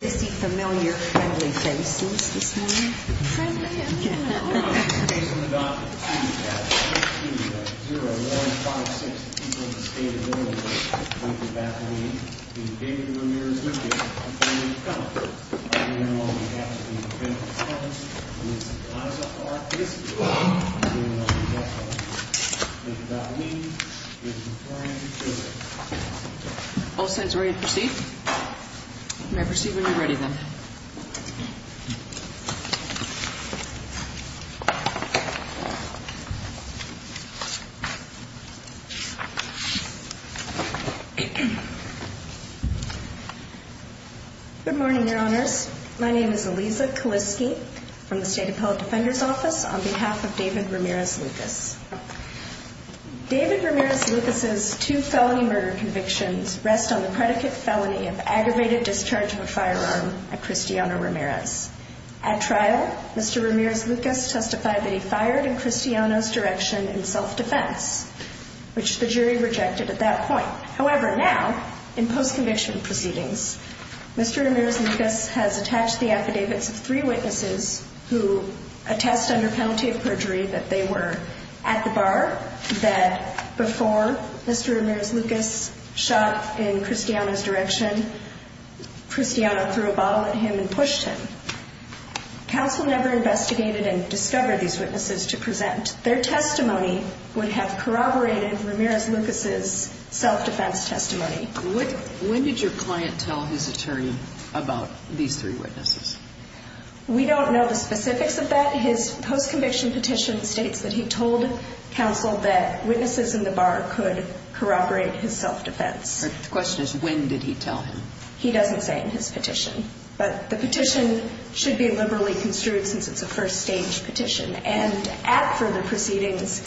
Is he familiar friendly faces this morning? Friendly? I don't know. All signs are ready to proceed. You may proceed when you're ready, then. Good morning, Your Honors. My name is Elisa Kaliske from the State Appellate Defender's Office on behalf of David Ramirez-Lucas. David Ramirez-Lucas' two felony murder convictions rest on the predicate felony of aggravated discharge of a firearm at Cristiano Ramirez. At trial, Mr. Ramirez-Lucas testified that he fired in Cristiano's direction in self-defense, which the jury rejected at that point. However, now, in post-conviction proceedings, Mr. Ramirez-Lucas has attached the affidavits of three witnesses who attest under penalty of perjury that they were at the bar, that before Mr. Ramirez-Lucas shot in Cristiano's direction, Cristiano threw a bottle at him and pushed him. Counsel never investigated and discovered these witnesses to present. Their testimony would have corroborated Ramirez-Lucas' self-defense testimony. When did your client tell his attorney about these three witnesses? We don't know the specifics of that. His post-conviction petition states that he told counsel that witnesses in the bar could corroborate his self-defense. The question is, when did he tell him? He doesn't say in his petition, but the petition should be liberally construed since it's a first-stage petition. And at further proceedings,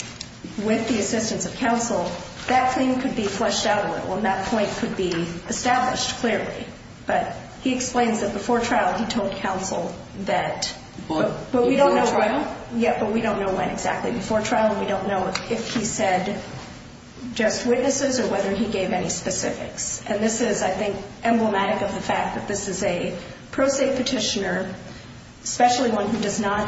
with the assistance of counsel, that claim could be fleshed out a little, and that point could be established clearly. But he explains that before trial, he told counsel that... Before trial? Yeah, but we don't know when exactly. Before trial, we don't know if he said just witnesses or whether he gave any specifics. And this is, I think, emblematic of the fact that this is a pro se petitioner, especially one who does not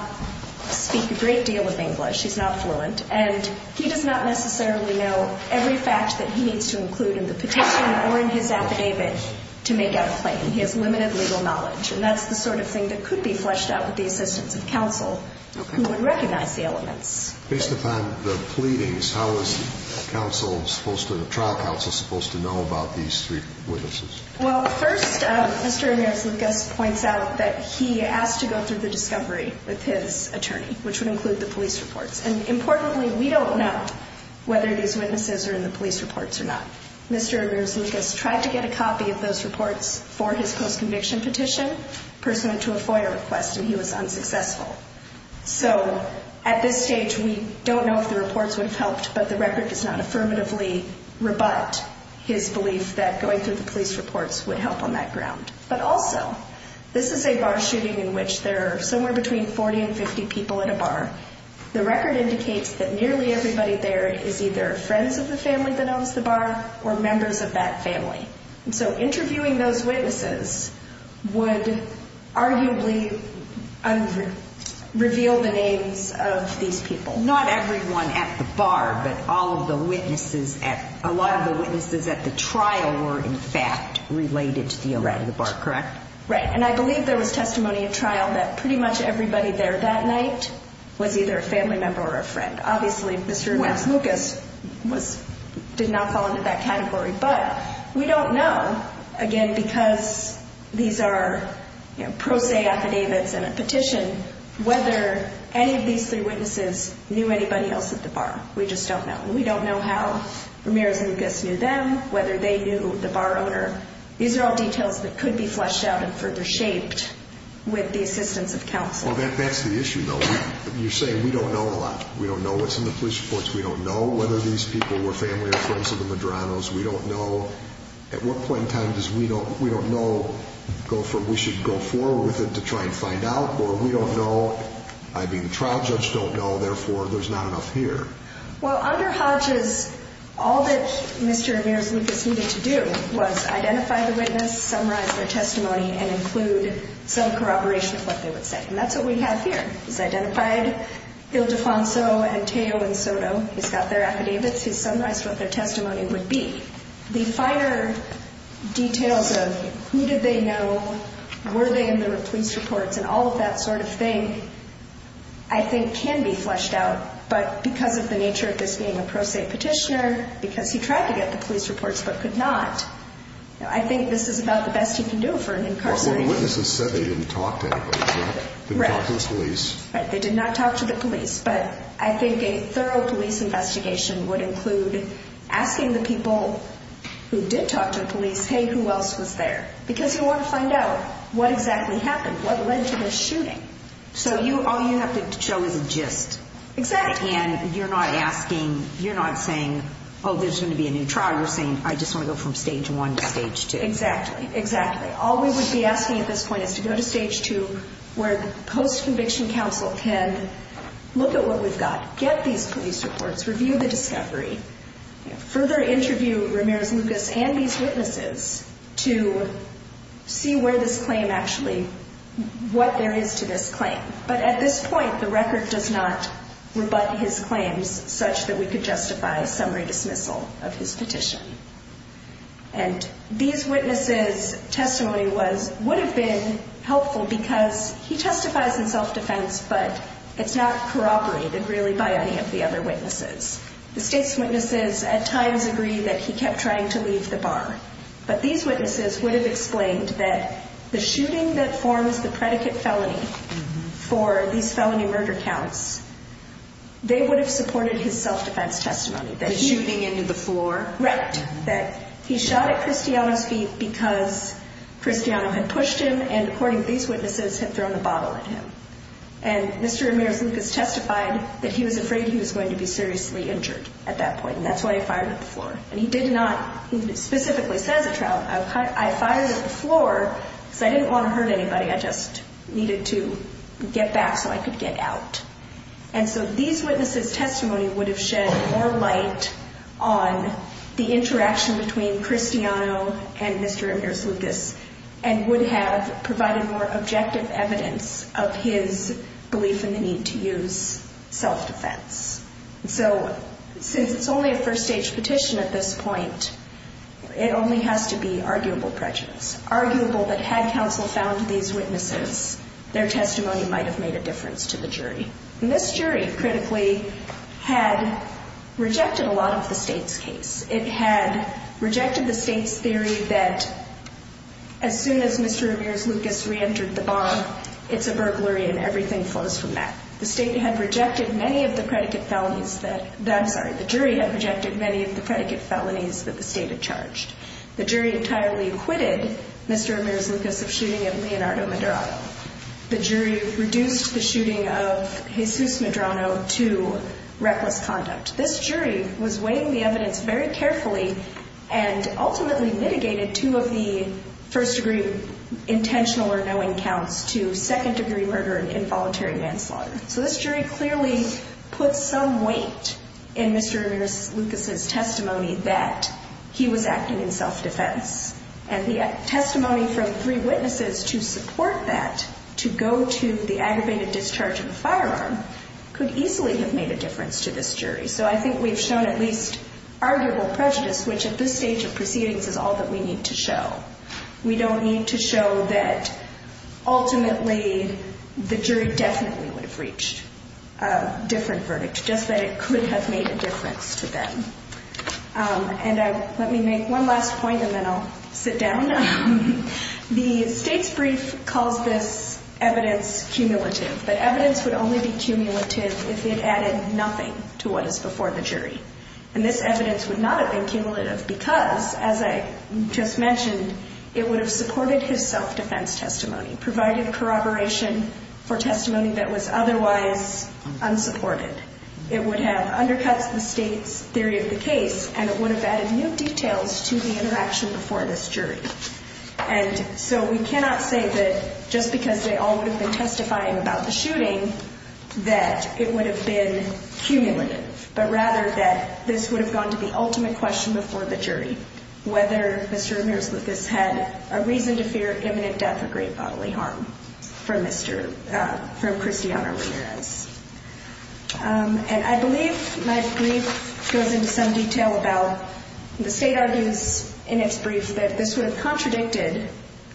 speak a great deal of English. He's not fluent, and he does not necessarily know every fact that he needs to include in the petition or in his affidavit to make out a claim. He has limited legal knowledge, and that's the sort of thing that could be fleshed out with the assistance of counsel who would recognize the elements. Based upon the pleadings, how is the trial counsel supposed to know about these three witnesses? Well, first, Mr. Ramirez-Lucas points out that he asked to go through the discovery with his attorney, which would include the police reports. And importantly, we don't know whether these witnesses are in the police reports or not. Mr. Ramirez-Lucas tried to get a copy of those reports for his post-conviction petition. The person went to a FOIA request, and he was unsuccessful. So at this stage, we don't know if the reports would have helped, but the record does not affirmatively rebut his belief that going through the police reports would help on that ground. But also, this is a bar shooting in which there are somewhere between 40 and 50 people at a bar. The record indicates that nearly everybody there is either friends of the family that owns the bar or members of that family. So interviewing those witnesses would arguably reveal the names of these people. Not everyone at the bar, but a lot of the witnesses at the trial were in fact related to the owner of the bar, correct? Right, and I believe there was testimony at trial that pretty much everybody there that night was either a family member or a friend. Obviously, Mr. Ramirez-Lucas did not fall into that category. But we don't know, again, because these are pro se affidavits and a petition, whether any of these three witnesses knew anybody else at the bar. We just don't know. We don't know how Ramirez-Lucas knew them, whether they knew the bar owner. These are all details that could be fleshed out and further shaped with the assistance of counsel. Well, that's the issue, though. You're saying we don't know a lot. We don't know what's in the police reports. We don't know whether these people were family or friends of the Madranos. We don't know at what point in time we should go forward with it to try and find out. Or we don't know. I mean, the trial judge don't know. Therefore, there's not enough here. Well, under Hodges, all that Mr. Ramirez-Lucas needed to do was identify the witness, summarize their testimony, and include some corroboration of what they would say. And that's what we have here. He's identified Il Defonso and Teo and Soto. He's got their affidavits. He's summarized what their testimony would be. The finer details of who did they know, were they in the police reports, and all of that sort of thing, I think, can be fleshed out. But because of the nature of this being a pro se petitioner, because he tried to get the police reports but could not, I think this is about the best he can do for an incarcerated person. Well, the witnesses said they didn't talk to anybody, right? Didn't talk to the police. Right. They did not talk to the police. But I think a thorough police investigation would include asking the people who did talk to the police, hey, who else was there? Because you want to find out what exactly happened, what led to this shooting. So all you have to show is a gist. Exactly. And you're not asking, you're not saying, oh, there's going to be a new trial. You're saying, I just want to go from stage one to stage two. Exactly. Exactly. So all we would be asking at this point is to go to stage two where the post-conviction counsel can look at what we've got, get these police reports, review the discovery, further interview Ramirez-Lucas and these witnesses to see where this claim actually, what there is to this claim. But at this point, the record does not rebut his claims such that we could justify summary dismissal of his petition. And these witnesses' testimony would have been helpful because he testifies in self-defense, but it's not corroborated really by any of the other witnesses. The state's witnesses at times agree that he kept trying to leave the bar. But these witnesses would have explained that the shooting that forms the predicate felony for these felony murder counts, they would have supported his self-defense testimony. The shooting into the floor? Right. That he shot at Cristiano's feet because Cristiano had pushed him and, according to these witnesses, had thrown the bottle at him. And Mr. Ramirez-Lucas testified that he was afraid he was going to be seriously injured at that point, and that's why he fired at the floor. And he did not. He specifically says at trial, I fired at the floor because I didn't want to hurt anybody. I just needed to get back so I could get out. And so these witnesses' testimony would have shed more light on the interaction between Cristiano and Mr. Ramirez-Lucas and would have provided more objective evidence of his belief in the need to use self-defense. So since it's only a first-stage petition at this point, it only has to be arguable prejudice, arguable that had counsel found these witnesses, their testimony might have made a difference to the jury. And this jury, critically, had rejected a lot of the State's case. It had rejected the State's theory that as soon as Mr. Ramirez-Lucas reentered the bomb, it's a burglary and everything flows from that. The State had rejected many of the predicate felonies that the State had charged. The jury entirely acquitted Mr. Ramirez-Lucas of shooting at Leonardo Medrano. The jury reduced the shooting of Jesus Medrano to reckless conduct. This jury was weighing the evidence very carefully and ultimately mitigated two of the first-degree intentional or knowing counts to second-degree murder and involuntary manslaughter. So this jury clearly put some weight in Mr. Ramirez-Lucas' testimony that he was acting in self-defense. And the testimony from three witnesses to support that, to go to the aggravated discharge of the firearm, could easily have made a difference to this jury. So I think we've shown at least arguable prejudice, which at this stage of proceedings is all that we need to show. We don't need to show that ultimately the jury definitely would have reached a different verdict, just that it could have made a difference to them. And let me make one last point and then I'll sit down. The State's brief calls this evidence cumulative, but evidence would only be cumulative if it added nothing to what is before the jury. And this evidence would not have been cumulative because, as I just mentioned, it would have supported his self-defense testimony, provided corroboration for testimony that was otherwise unsupported. It would have undercut the State's theory of the case, and it would have added no details to the interaction before this jury. And so we cannot say that just because they all would have been testifying about the shooting that it would have been cumulative, but rather that this would have gone to the ultimate question before the jury, whether Mr. Ramirez-Lucas had a reason to fear imminent death or great bodily harm from Cristiano Ramirez. And I believe my brief goes into some detail about the State argues in its brief that this would have contradicted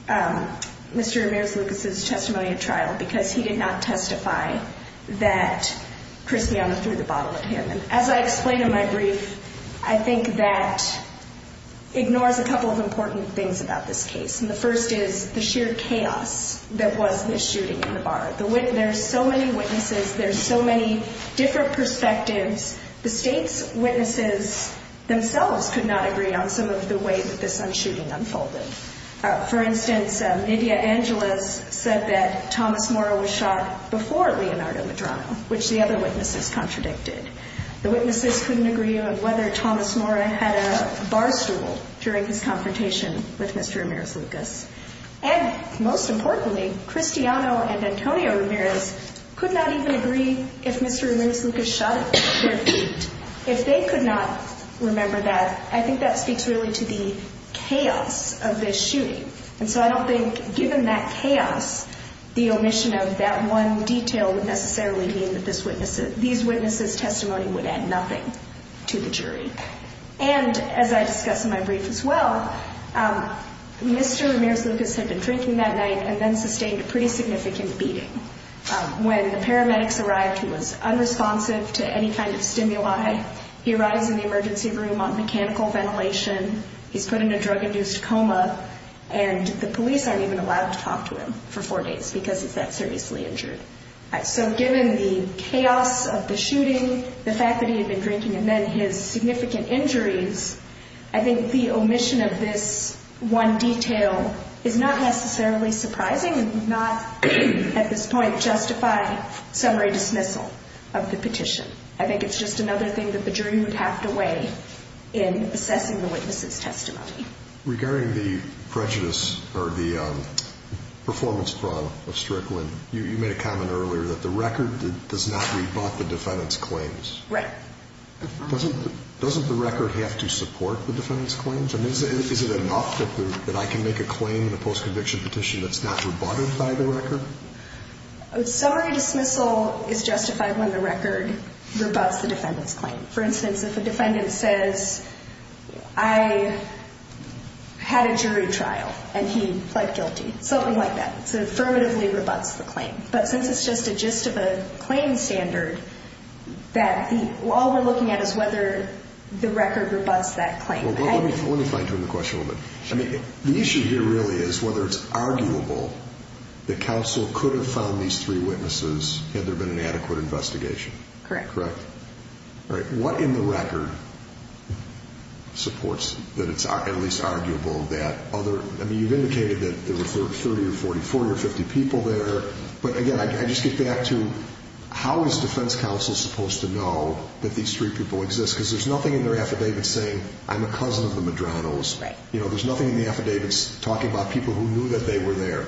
Mr. Ramirez-Lucas' testimony at trial because he did not testify that Cristiano threw the bottle at him. And as I explain in my brief, I think that ignores a couple of important things about this case. And the first is the sheer chaos that was this shooting in the bar. There are so many witnesses. There are so many different perspectives. The State's witnesses themselves could not agree on some of the way that this shooting unfolded. For instance, Nydia Angeles said that Thomas Mora was shot before Leonardo Medrano, which the other witnesses contradicted. The witnesses couldn't agree on whether Thomas Mora had a bar stool during his confrontation with Mr. Ramirez-Lucas. And most importantly, Cristiano and Antonio Ramirez could not even agree if Mr. Ramirez-Lucas shot at their feet. If they could not remember that, I think that speaks really to the chaos of this shooting. And so I don't think, given that chaos, the omission of that one detail would necessarily mean that these witnesses' testimony would add nothing to the jury. And as I discuss in my brief as well, Mr. Ramirez-Lucas had been drinking that night and then sustained a pretty significant beating. When the paramedics arrived, he was unresponsive to any kind of stimuli. He arrives in the emergency room on mechanical ventilation. He's put in a drug-induced coma, and the police aren't even allowed to talk to him for four days because he's that seriously injured. So given the chaos of the shooting, the fact that he had been drinking, and then his significant injuries, I think the omission of this one detail is not necessarily surprising and would not, at this point, justify summary dismissal of the petition. I think it's just another thing that the jury would have to weigh in assessing the witness' testimony. Regarding the prejudice or the performance fraud of Strickland, you made a comment earlier that the record does not rebut the defendant's claims. Right. Doesn't the record have to support the defendant's claims? I mean, is it enough that I can make a claim in a post-conviction petition that's not rebutted by the record? A summary dismissal is justified when the record rebuts the defendant's claim. For instance, if a defendant says, I had a jury trial, and he pled guilty, something like that, it affirmatively rebuts the claim. But since it's just a gist of a claim standard, all we're looking at is whether the record rebuts that claim. Let me fine-tune the question a little bit. The issue here really is whether it's arguable that counsel could have found these three witnesses had there been an adequate investigation. Correct. Correct. All right. What in the record supports that it's at least arguable that other – I mean, you've indicated that there were 30 or 40, 40 or 50 people there. But, again, I just get back to how is defense counsel supposed to know that these three people exist? Because there's nothing in their affidavit saying, I'm a cousin of the Madronos. Right. You know, there's nothing in the affidavits talking about people who knew that they were there.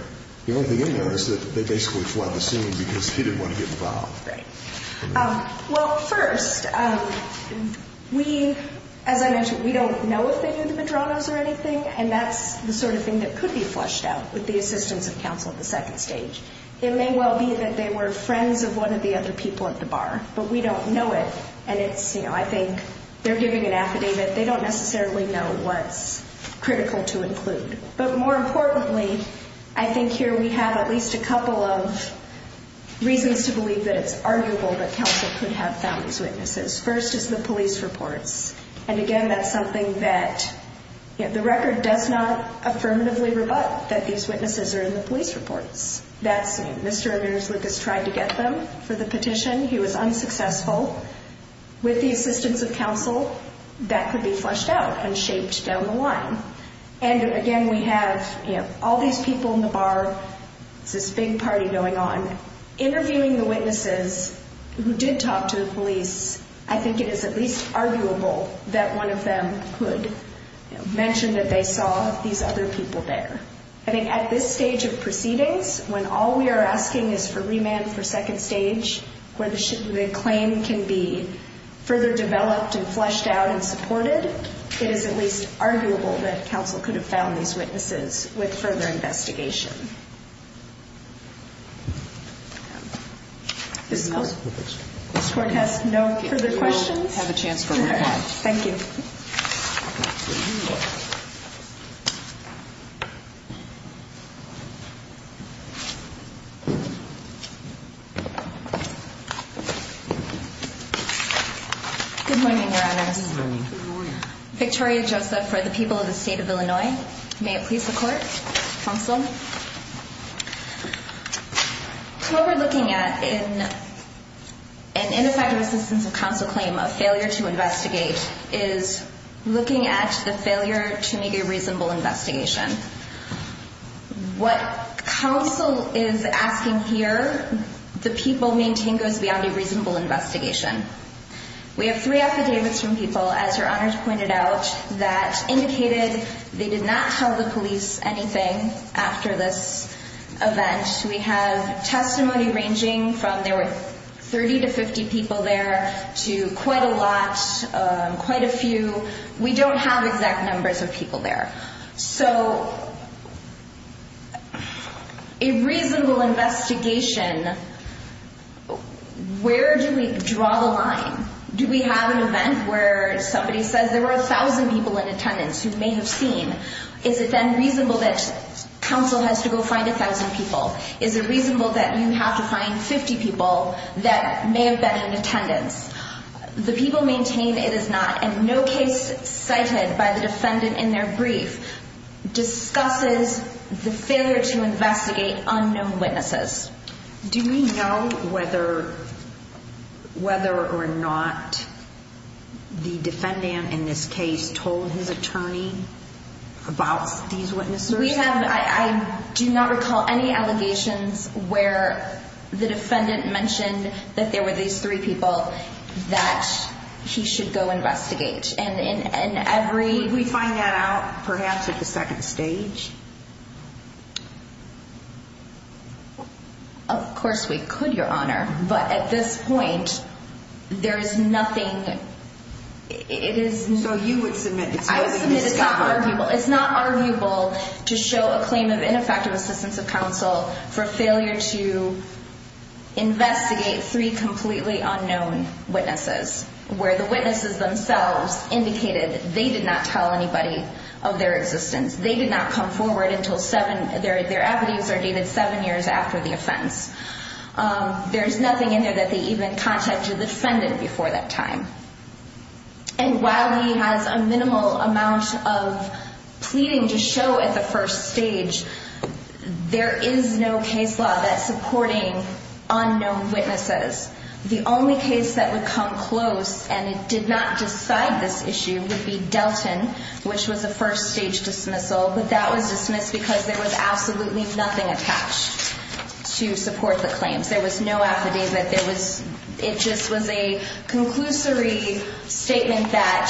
The only thing in there is that they basically fled the scene because he didn't want to get involved. Right. Well, first, we – as I mentioned, we don't know if they knew the Madronos or anything, and that's the sort of thing that could be flushed out with the assistance of counsel at the second stage. It may well be that they were friends of one of the other people at the bar, but we don't know it. And it's – you know, I think they're giving an affidavit. They don't necessarily know what's critical to include. But, more importantly, I think here we have at least a couple of reasons to believe that it's arguable that counsel could have found these witnesses. First is the police reports. And, again, that's something that – you know, the record does not affirmatively rebut that these witnesses are in the police reports. That's – Mr. Amirzluk has tried to get them for the petition. He was unsuccessful. With the assistance of counsel, that could be flushed out and shaped down the line. And, again, we have, you know, all these people in the bar. It's this big party going on. Interviewing the witnesses who did talk to the police, I think it is at least arguable that one of them could mention that they saw these other people there. I think at this stage of proceedings, when all we are asking is for remand for second stage, where the claim can be further developed and flushed out and supported, I think it is at least arguable that counsel could have found these witnesses with further investigation. Does the court have no further questions? We have a chance for a remand. Thank you. Good morning, Your Honors. Good morning. Victoria Joseph for the people of the state of Illinois. May it please the court? Counsel? What we're looking at in an ineffective assistance of counsel claim, a failure to investigate, is looking at the failure to make a reasonable investigation. What counsel is asking here, the people maintain goes beyond a reasonable investigation. We have three affidavits from people, as Your Honors pointed out, that indicated they did not tell the police anything after this event. We have testimony ranging from there were 30 to 50 people there to quite a lot, quite a few. We don't have exact numbers of people there. So a reasonable investigation, where do we draw the line? Do we have an event where somebody says there were 1,000 people in attendance who may have seen? Is it then reasonable that counsel has to go find 1,000 people? Is it reasonable that you have to find 50 people that may have been in attendance? The people maintain it is not, and no case cited by the defendant in their brief discusses the failure to investigate unknown witnesses. Do we know whether or not the defendant in this case told his attorney about these witnesses? I do not recall any allegations where the defendant mentioned that there were these three people that he should go investigate. Did we find that out perhaps at the second stage? Of course we could, Your Honor, but at this point, there is nothing. So you would submit it's not arguable. It's not arguable to show a claim of ineffective assistance of counsel for failure to investigate three completely unknown witnesses, where the witnesses themselves indicated they did not tell anybody of their existence. They did not come forward until their affidavits are dated seven years after the offense. There is nothing in there that they even contacted the defendant before that time. And while he has a minimal amount of pleading to show at the first stage, there is no case law that's supporting unknown witnesses. The only case that would come close, and it did not decide this issue, would be Delton, which was a first stage dismissal, but that was dismissed because there was absolutely nothing attached to support the claims. There was no affidavit. It just was a conclusory statement that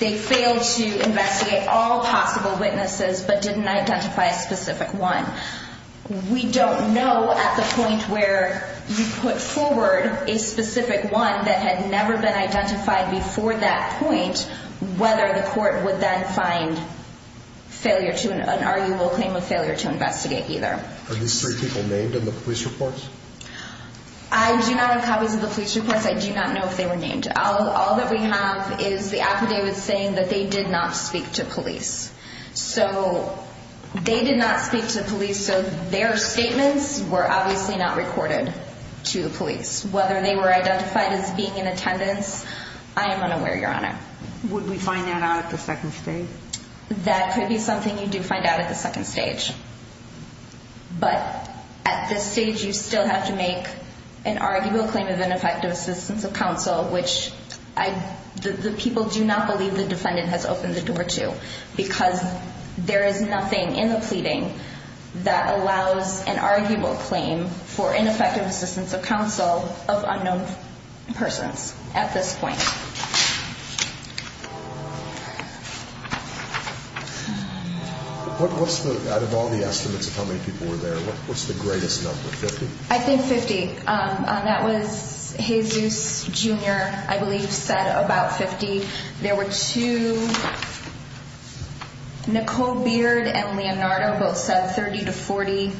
they failed to investigate all possible witnesses but didn't identify a specific one. We don't know at the point where you put forward a specific one that had never been identified before that point whether the court would then find an arguable claim of failure to investigate either. Are these three people named in the police reports? I do not have copies of the police reports. I do not know if they were named. All that we have is the affidavit saying that they did not speak to police. So they did not speak to police, so their statements were obviously not recorded to the police. Whether they were identified as being in attendance, I am unaware, Your Honor. Would we find that out at the second stage? That could be something you do find out at the second stage. But at this stage you still have to make an arguable claim of ineffective assistance of counsel, which the people do not believe the defendant has opened the door to because there is nothing in the pleading that allows an arguable claim for ineffective assistance of counsel of unknown persons at this point. Out of all the estimates of how many people were there, what's the greatest number, 50? I think 50. That was Jesus, Jr., I believe, said about 50. There were two, Nicole Beard and Leonardo both said 30 to 40.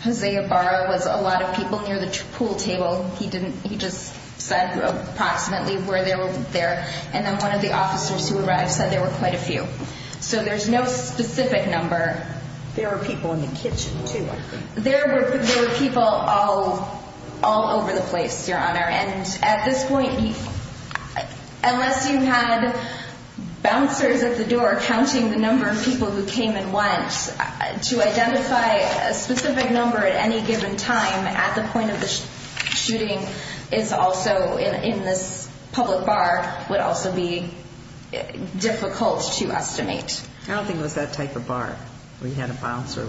Jose Ibarra was a lot of people near the pool table. He just said approximately where they were there. And then one of the officers who arrived said there were quite a few. So there's no specific number. There were people in the kitchen too, I think. There were people all over the place, Your Honor. And at this point, unless you had bouncers at the door counting the number of people who came and went, to identify a specific number at any given time at the point of the shooting in this public bar would also be difficult to estimate. I don't think it was that type of bar where you had a bouncer.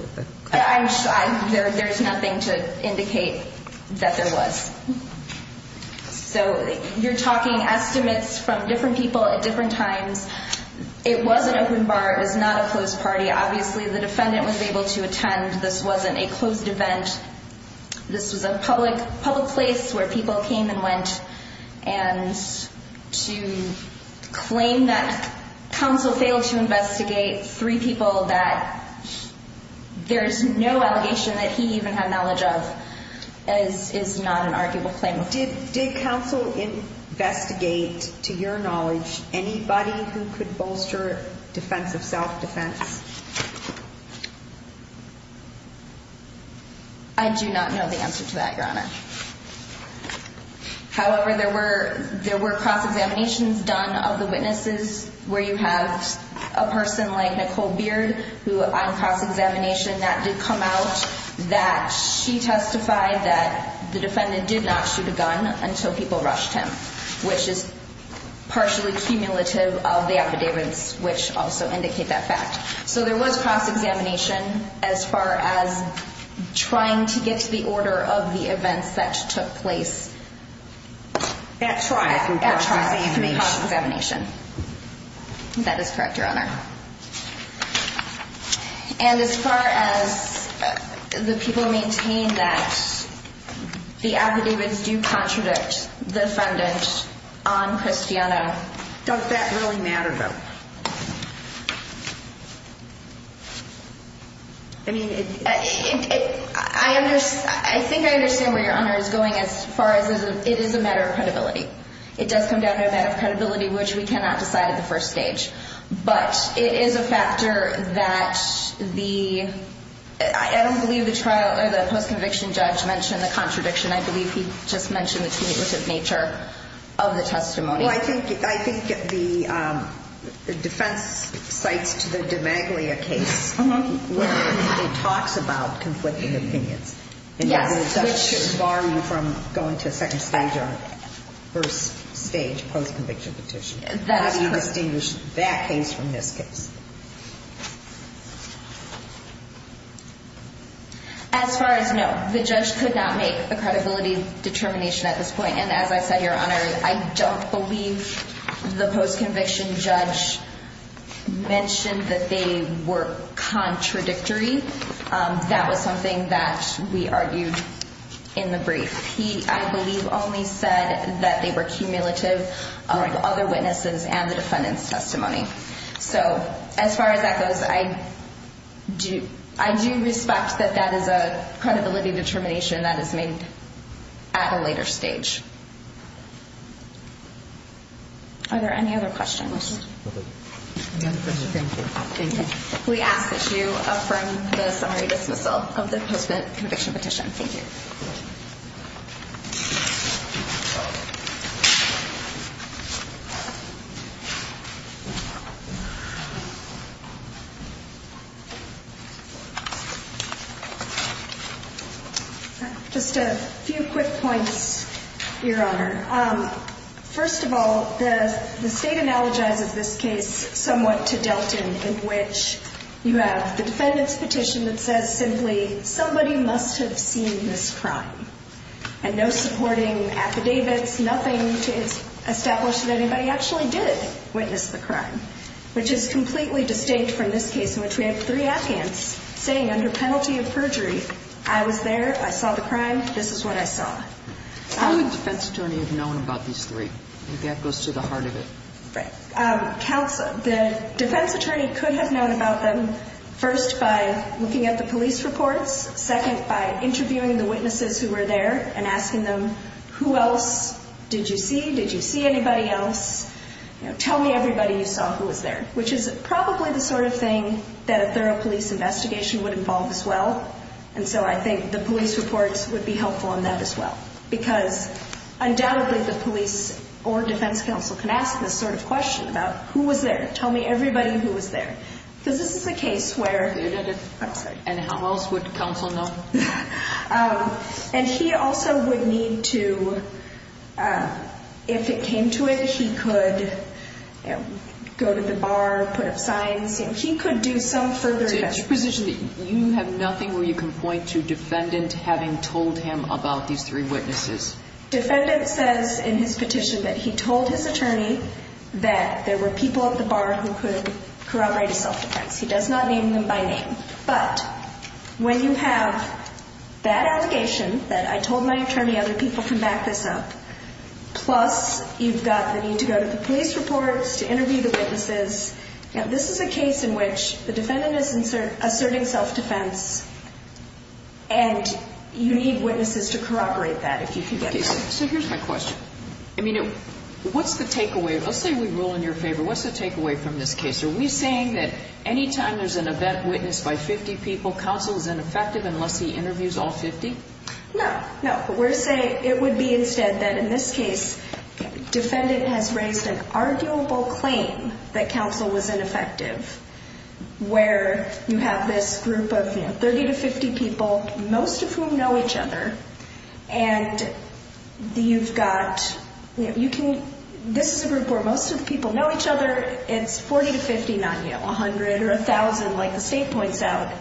There's nothing to indicate that there was. So you're talking estimates from different people at different times. It was an open bar. It was not a closed party. Obviously the defendant was able to attend. This wasn't a closed event. This was a public place where people came and went. And to claim that counsel failed to investigate three people that there's no allegation that he even had knowledge of is not an arguable claim. Did counsel investigate, to your knowledge, anybody who could bolster defensive self-defense? I do not know the answer to that, Your Honor. However, there were cross-examinations done of the witnesses where you have a person like Nicole Beard who on cross-examination that did come out that she testified that the defendant did not shoot a gun until people rushed him, which is partially cumulative of the affidavits, which also indicate that fact. So there was cross-examination as far as trying to get to the order of the events that took place. At trial. At trial. Cross-examination. Cross-examination. That is correct, Your Honor. And as far as the people maintain that the affidavits do contradict the defendant on Christiano. Does that really matter, though? I mean, I think I understand where Your Honor is going as far as it is a matter of credibility. It does come down to a matter of credibility, which we cannot decide at the first stage. But it is a factor that the – I don't believe the trial or the post-conviction judge mentioned the contradiction. I believe he just mentioned the cumulative nature of the testimony. Well, I think the defense cites to the de Maglia case where it talks about conflicting opinions. Yes. And the judge should bar you from going to a second stage or first stage post-conviction petition. That is correct. How do you distinguish that case from this case? As far as – no, the judge could not make a credibility determination at this point. And as I said, Your Honor, I don't believe the post-conviction judge mentioned that they were contradictory. That was something that we argued in the brief. He, I believe, only said that they were cumulative of other witnesses and the defendant's testimony. So as far as that goes, I do respect that that is a credibility determination that is made at a later stage. Are there any other questions? No questions. Thank you. Thank you. We ask that you affirm the summary dismissal of the post-conviction petition. Thank you. Just a few quick points, Your Honor. First of all, the State analogizes this case somewhat to Delton in which you have the defendant's petition that says simply, somebody must have seen this crime. And no supporting affidavits, nothing to establish that anybody actually did witness the crime. Which is completely distinct from this case in which we have three Afghans saying under penalty of perjury, I was there, I saw the crime, this is what I saw. How would the defense attorney have known about these three? I think that goes to the heart of it. The defense attorney could have known about them first by looking at the police reports, second by interviewing the witnesses who were there and asking them, who else did you see? Did you see anybody else? Tell me everybody you saw who was there. Which is probably the sort of thing that a thorough police investigation would involve as well. And so I think the police reports would be helpful in that as well. Because undoubtedly the police or defense counsel can ask this sort of question about who was there. Tell me everybody who was there. Because this is a case where... And how else would counsel know? And he also would need to, if it came to it, he could go to the bar, put up signs. He could do some further investigation. So it's your position that you have nothing where you can point to defendant having told him about these three witnesses? Defendant says in his petition that he told his attorney that there were people at the bar who could corroborate a self-defense. He does not name them by name. But when you have that allegation that I told my attorney other people can back this up, plus you've got the need to go to the police reports to interview the witnesses. Now, this is a case in which the defendant is asserting self-defense. And you need witnesses to corroborate that, if you can get that. So here's my question. I mean, what's the takeaway? Let's say we rule in your favor. What's the takeaway from this case? Are we saying that any time there's an event witnessed by 50 people, counsel is ineffective unless he interviews all 50? No, no. We're saying it would be instead that in this case, defendant has raised an arguable claim that counsel was ineffective, where you have this group of, you know, 30 to 50 people, most of whom know each other, and you've got, you know, you can, this is a group where most of the people know each other. It's 40 to 50, not, you know, 100 or 1,000, like the state points out.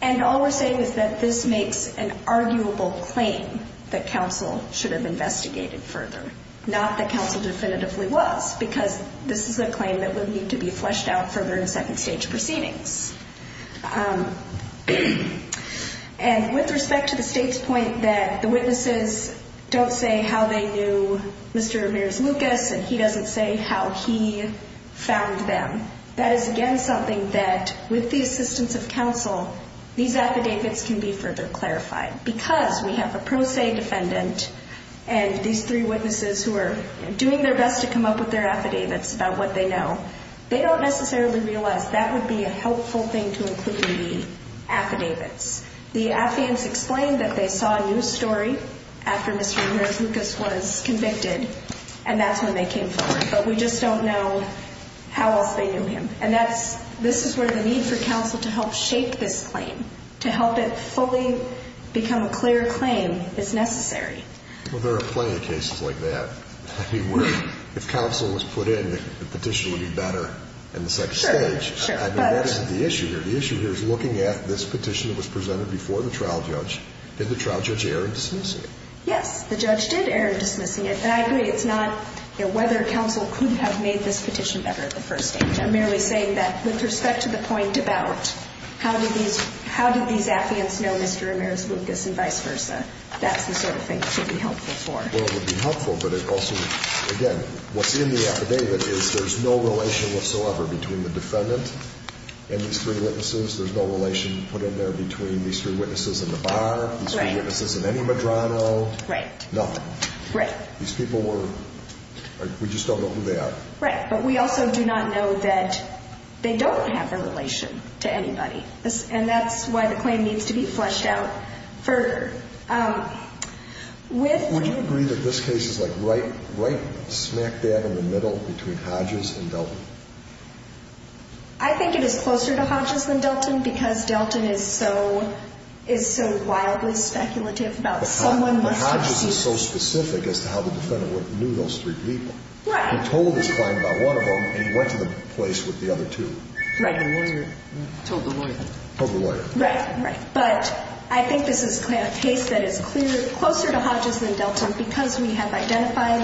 And all we're saying is that this makes an arguable claim that counsel should have investigated further, not that counsel definitively was, because this is a claim that would need to be fleshed out further in second-stage proceedings. And with respect to the state's point that the witnesses don't say how they knew Mr. Ramirez-Lucas and he doesn't say how he found them, that is, again, something that with the assistance of counsel, these affidavits can be further clarified, because we have a pro se defendant and these three witnesses who are doing their best to come up with their affidavits about what they know. They don't necessarily realize that would be a helpful thing to include in the affidavits. The affidavits explain that they saw a news story after Mr. Ramirez-Lucas was convicted, and that's when they came forward, but we just don't know how else they knew him. And that's, this is where the need for counsel to help shape this claim, to help it fully become a clear claim, is necessary. Well, there are plenty of cases like that. I mean, where if counsel was put in, the petition would be better in the second stage. Sure, sure. I mean, what is the issue here? The issue here is looking at this petition that was presented before the trial judge. Did the trial judge err in dismissing it? Yes. The judge did err in dismissing it. And I agree it's not whether counsel could have made this petition better at the first stage. I'm merely saying that with respect to the point about how did these, how did these affidavits know Mr. Ramirez-Lucas and vice versa? That's the sort of thing that should be helpful for. Well, it would be helpful, but it also, again, what's in the affidavit is there's no relation whatsoever between the defendant and these three witnesses. There's no relation put in there between these three witnesses in the bar, these three witnesses in any Medrano. Right. Nothing. Right. These people were, we just don't know who they are. Right. But we also do not know that they don't have a relation to anybody. And that's why the claim needs to be fleshed out further. Would you agree that this case is like right smack dab in the middle between Hodges and Delton? I think it is closer to Hodges than Delton because Delton is so, is so wildly speculative about someone. Hodges is so specific as to how the defendant knew those three people. Right. He told his client about one of them and he went to the place with the other two. Right. And the lawyer told the lawyer. Told the lawyer. Right. Right. But I think this is a case that is clear, closer to Hodges than Delton because we have identified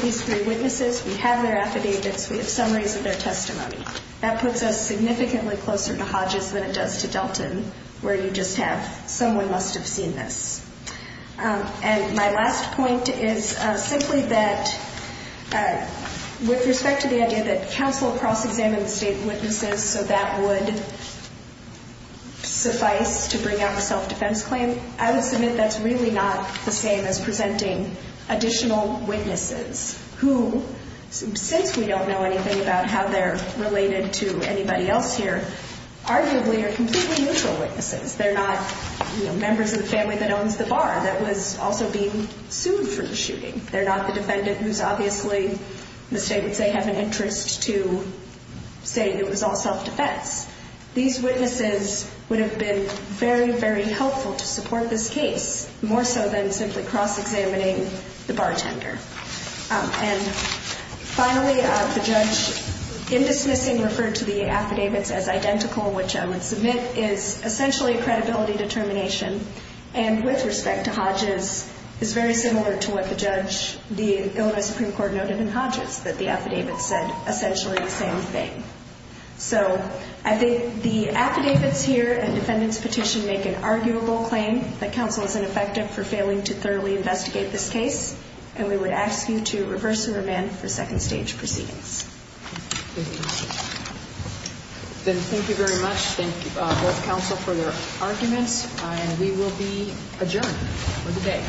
these three witnesses, we have their affidavits, we have summaries of their testimony. That puts us significantly closer to Hodges than it does to Delton where you just have someone must have seen this. And my last point is simply that with respect to the idea that counsel cross-examined the state witnesses so that would suffice to bring out a self-defense claim, I would submit that's really not the same as presenting additional witnesses who, since we don't know anything about how they're related to anybody else here, arguably are completely neutral witnesses. They're not members of the family that owns the bar that was also being sued for the shooting. They're not the defendant who's obviously, the state would say, have an interest to say it was all self-defense. These witnesses would have been very, very helpful to support this case, more so than simply cross-examining the bartender. And finally, the judge in dismissing referred to the affidavits as identical, which I would submit is essentially a credibility determination. And with respect to Hodges, it's very similar to what the judge, the Illinois Supreme Court noted in Hodges that the affidavits said essentially the same thing. So I think the affidavits here and defendant's petition make an arguable claim that counsel is ineffective for failing to thoroughly investigate this case, and we would ask you to reverse the remand for second stage proceedings. Thank you. Then thank you very much. Thank both counsel for their arguments, and we will be adjourned for the day.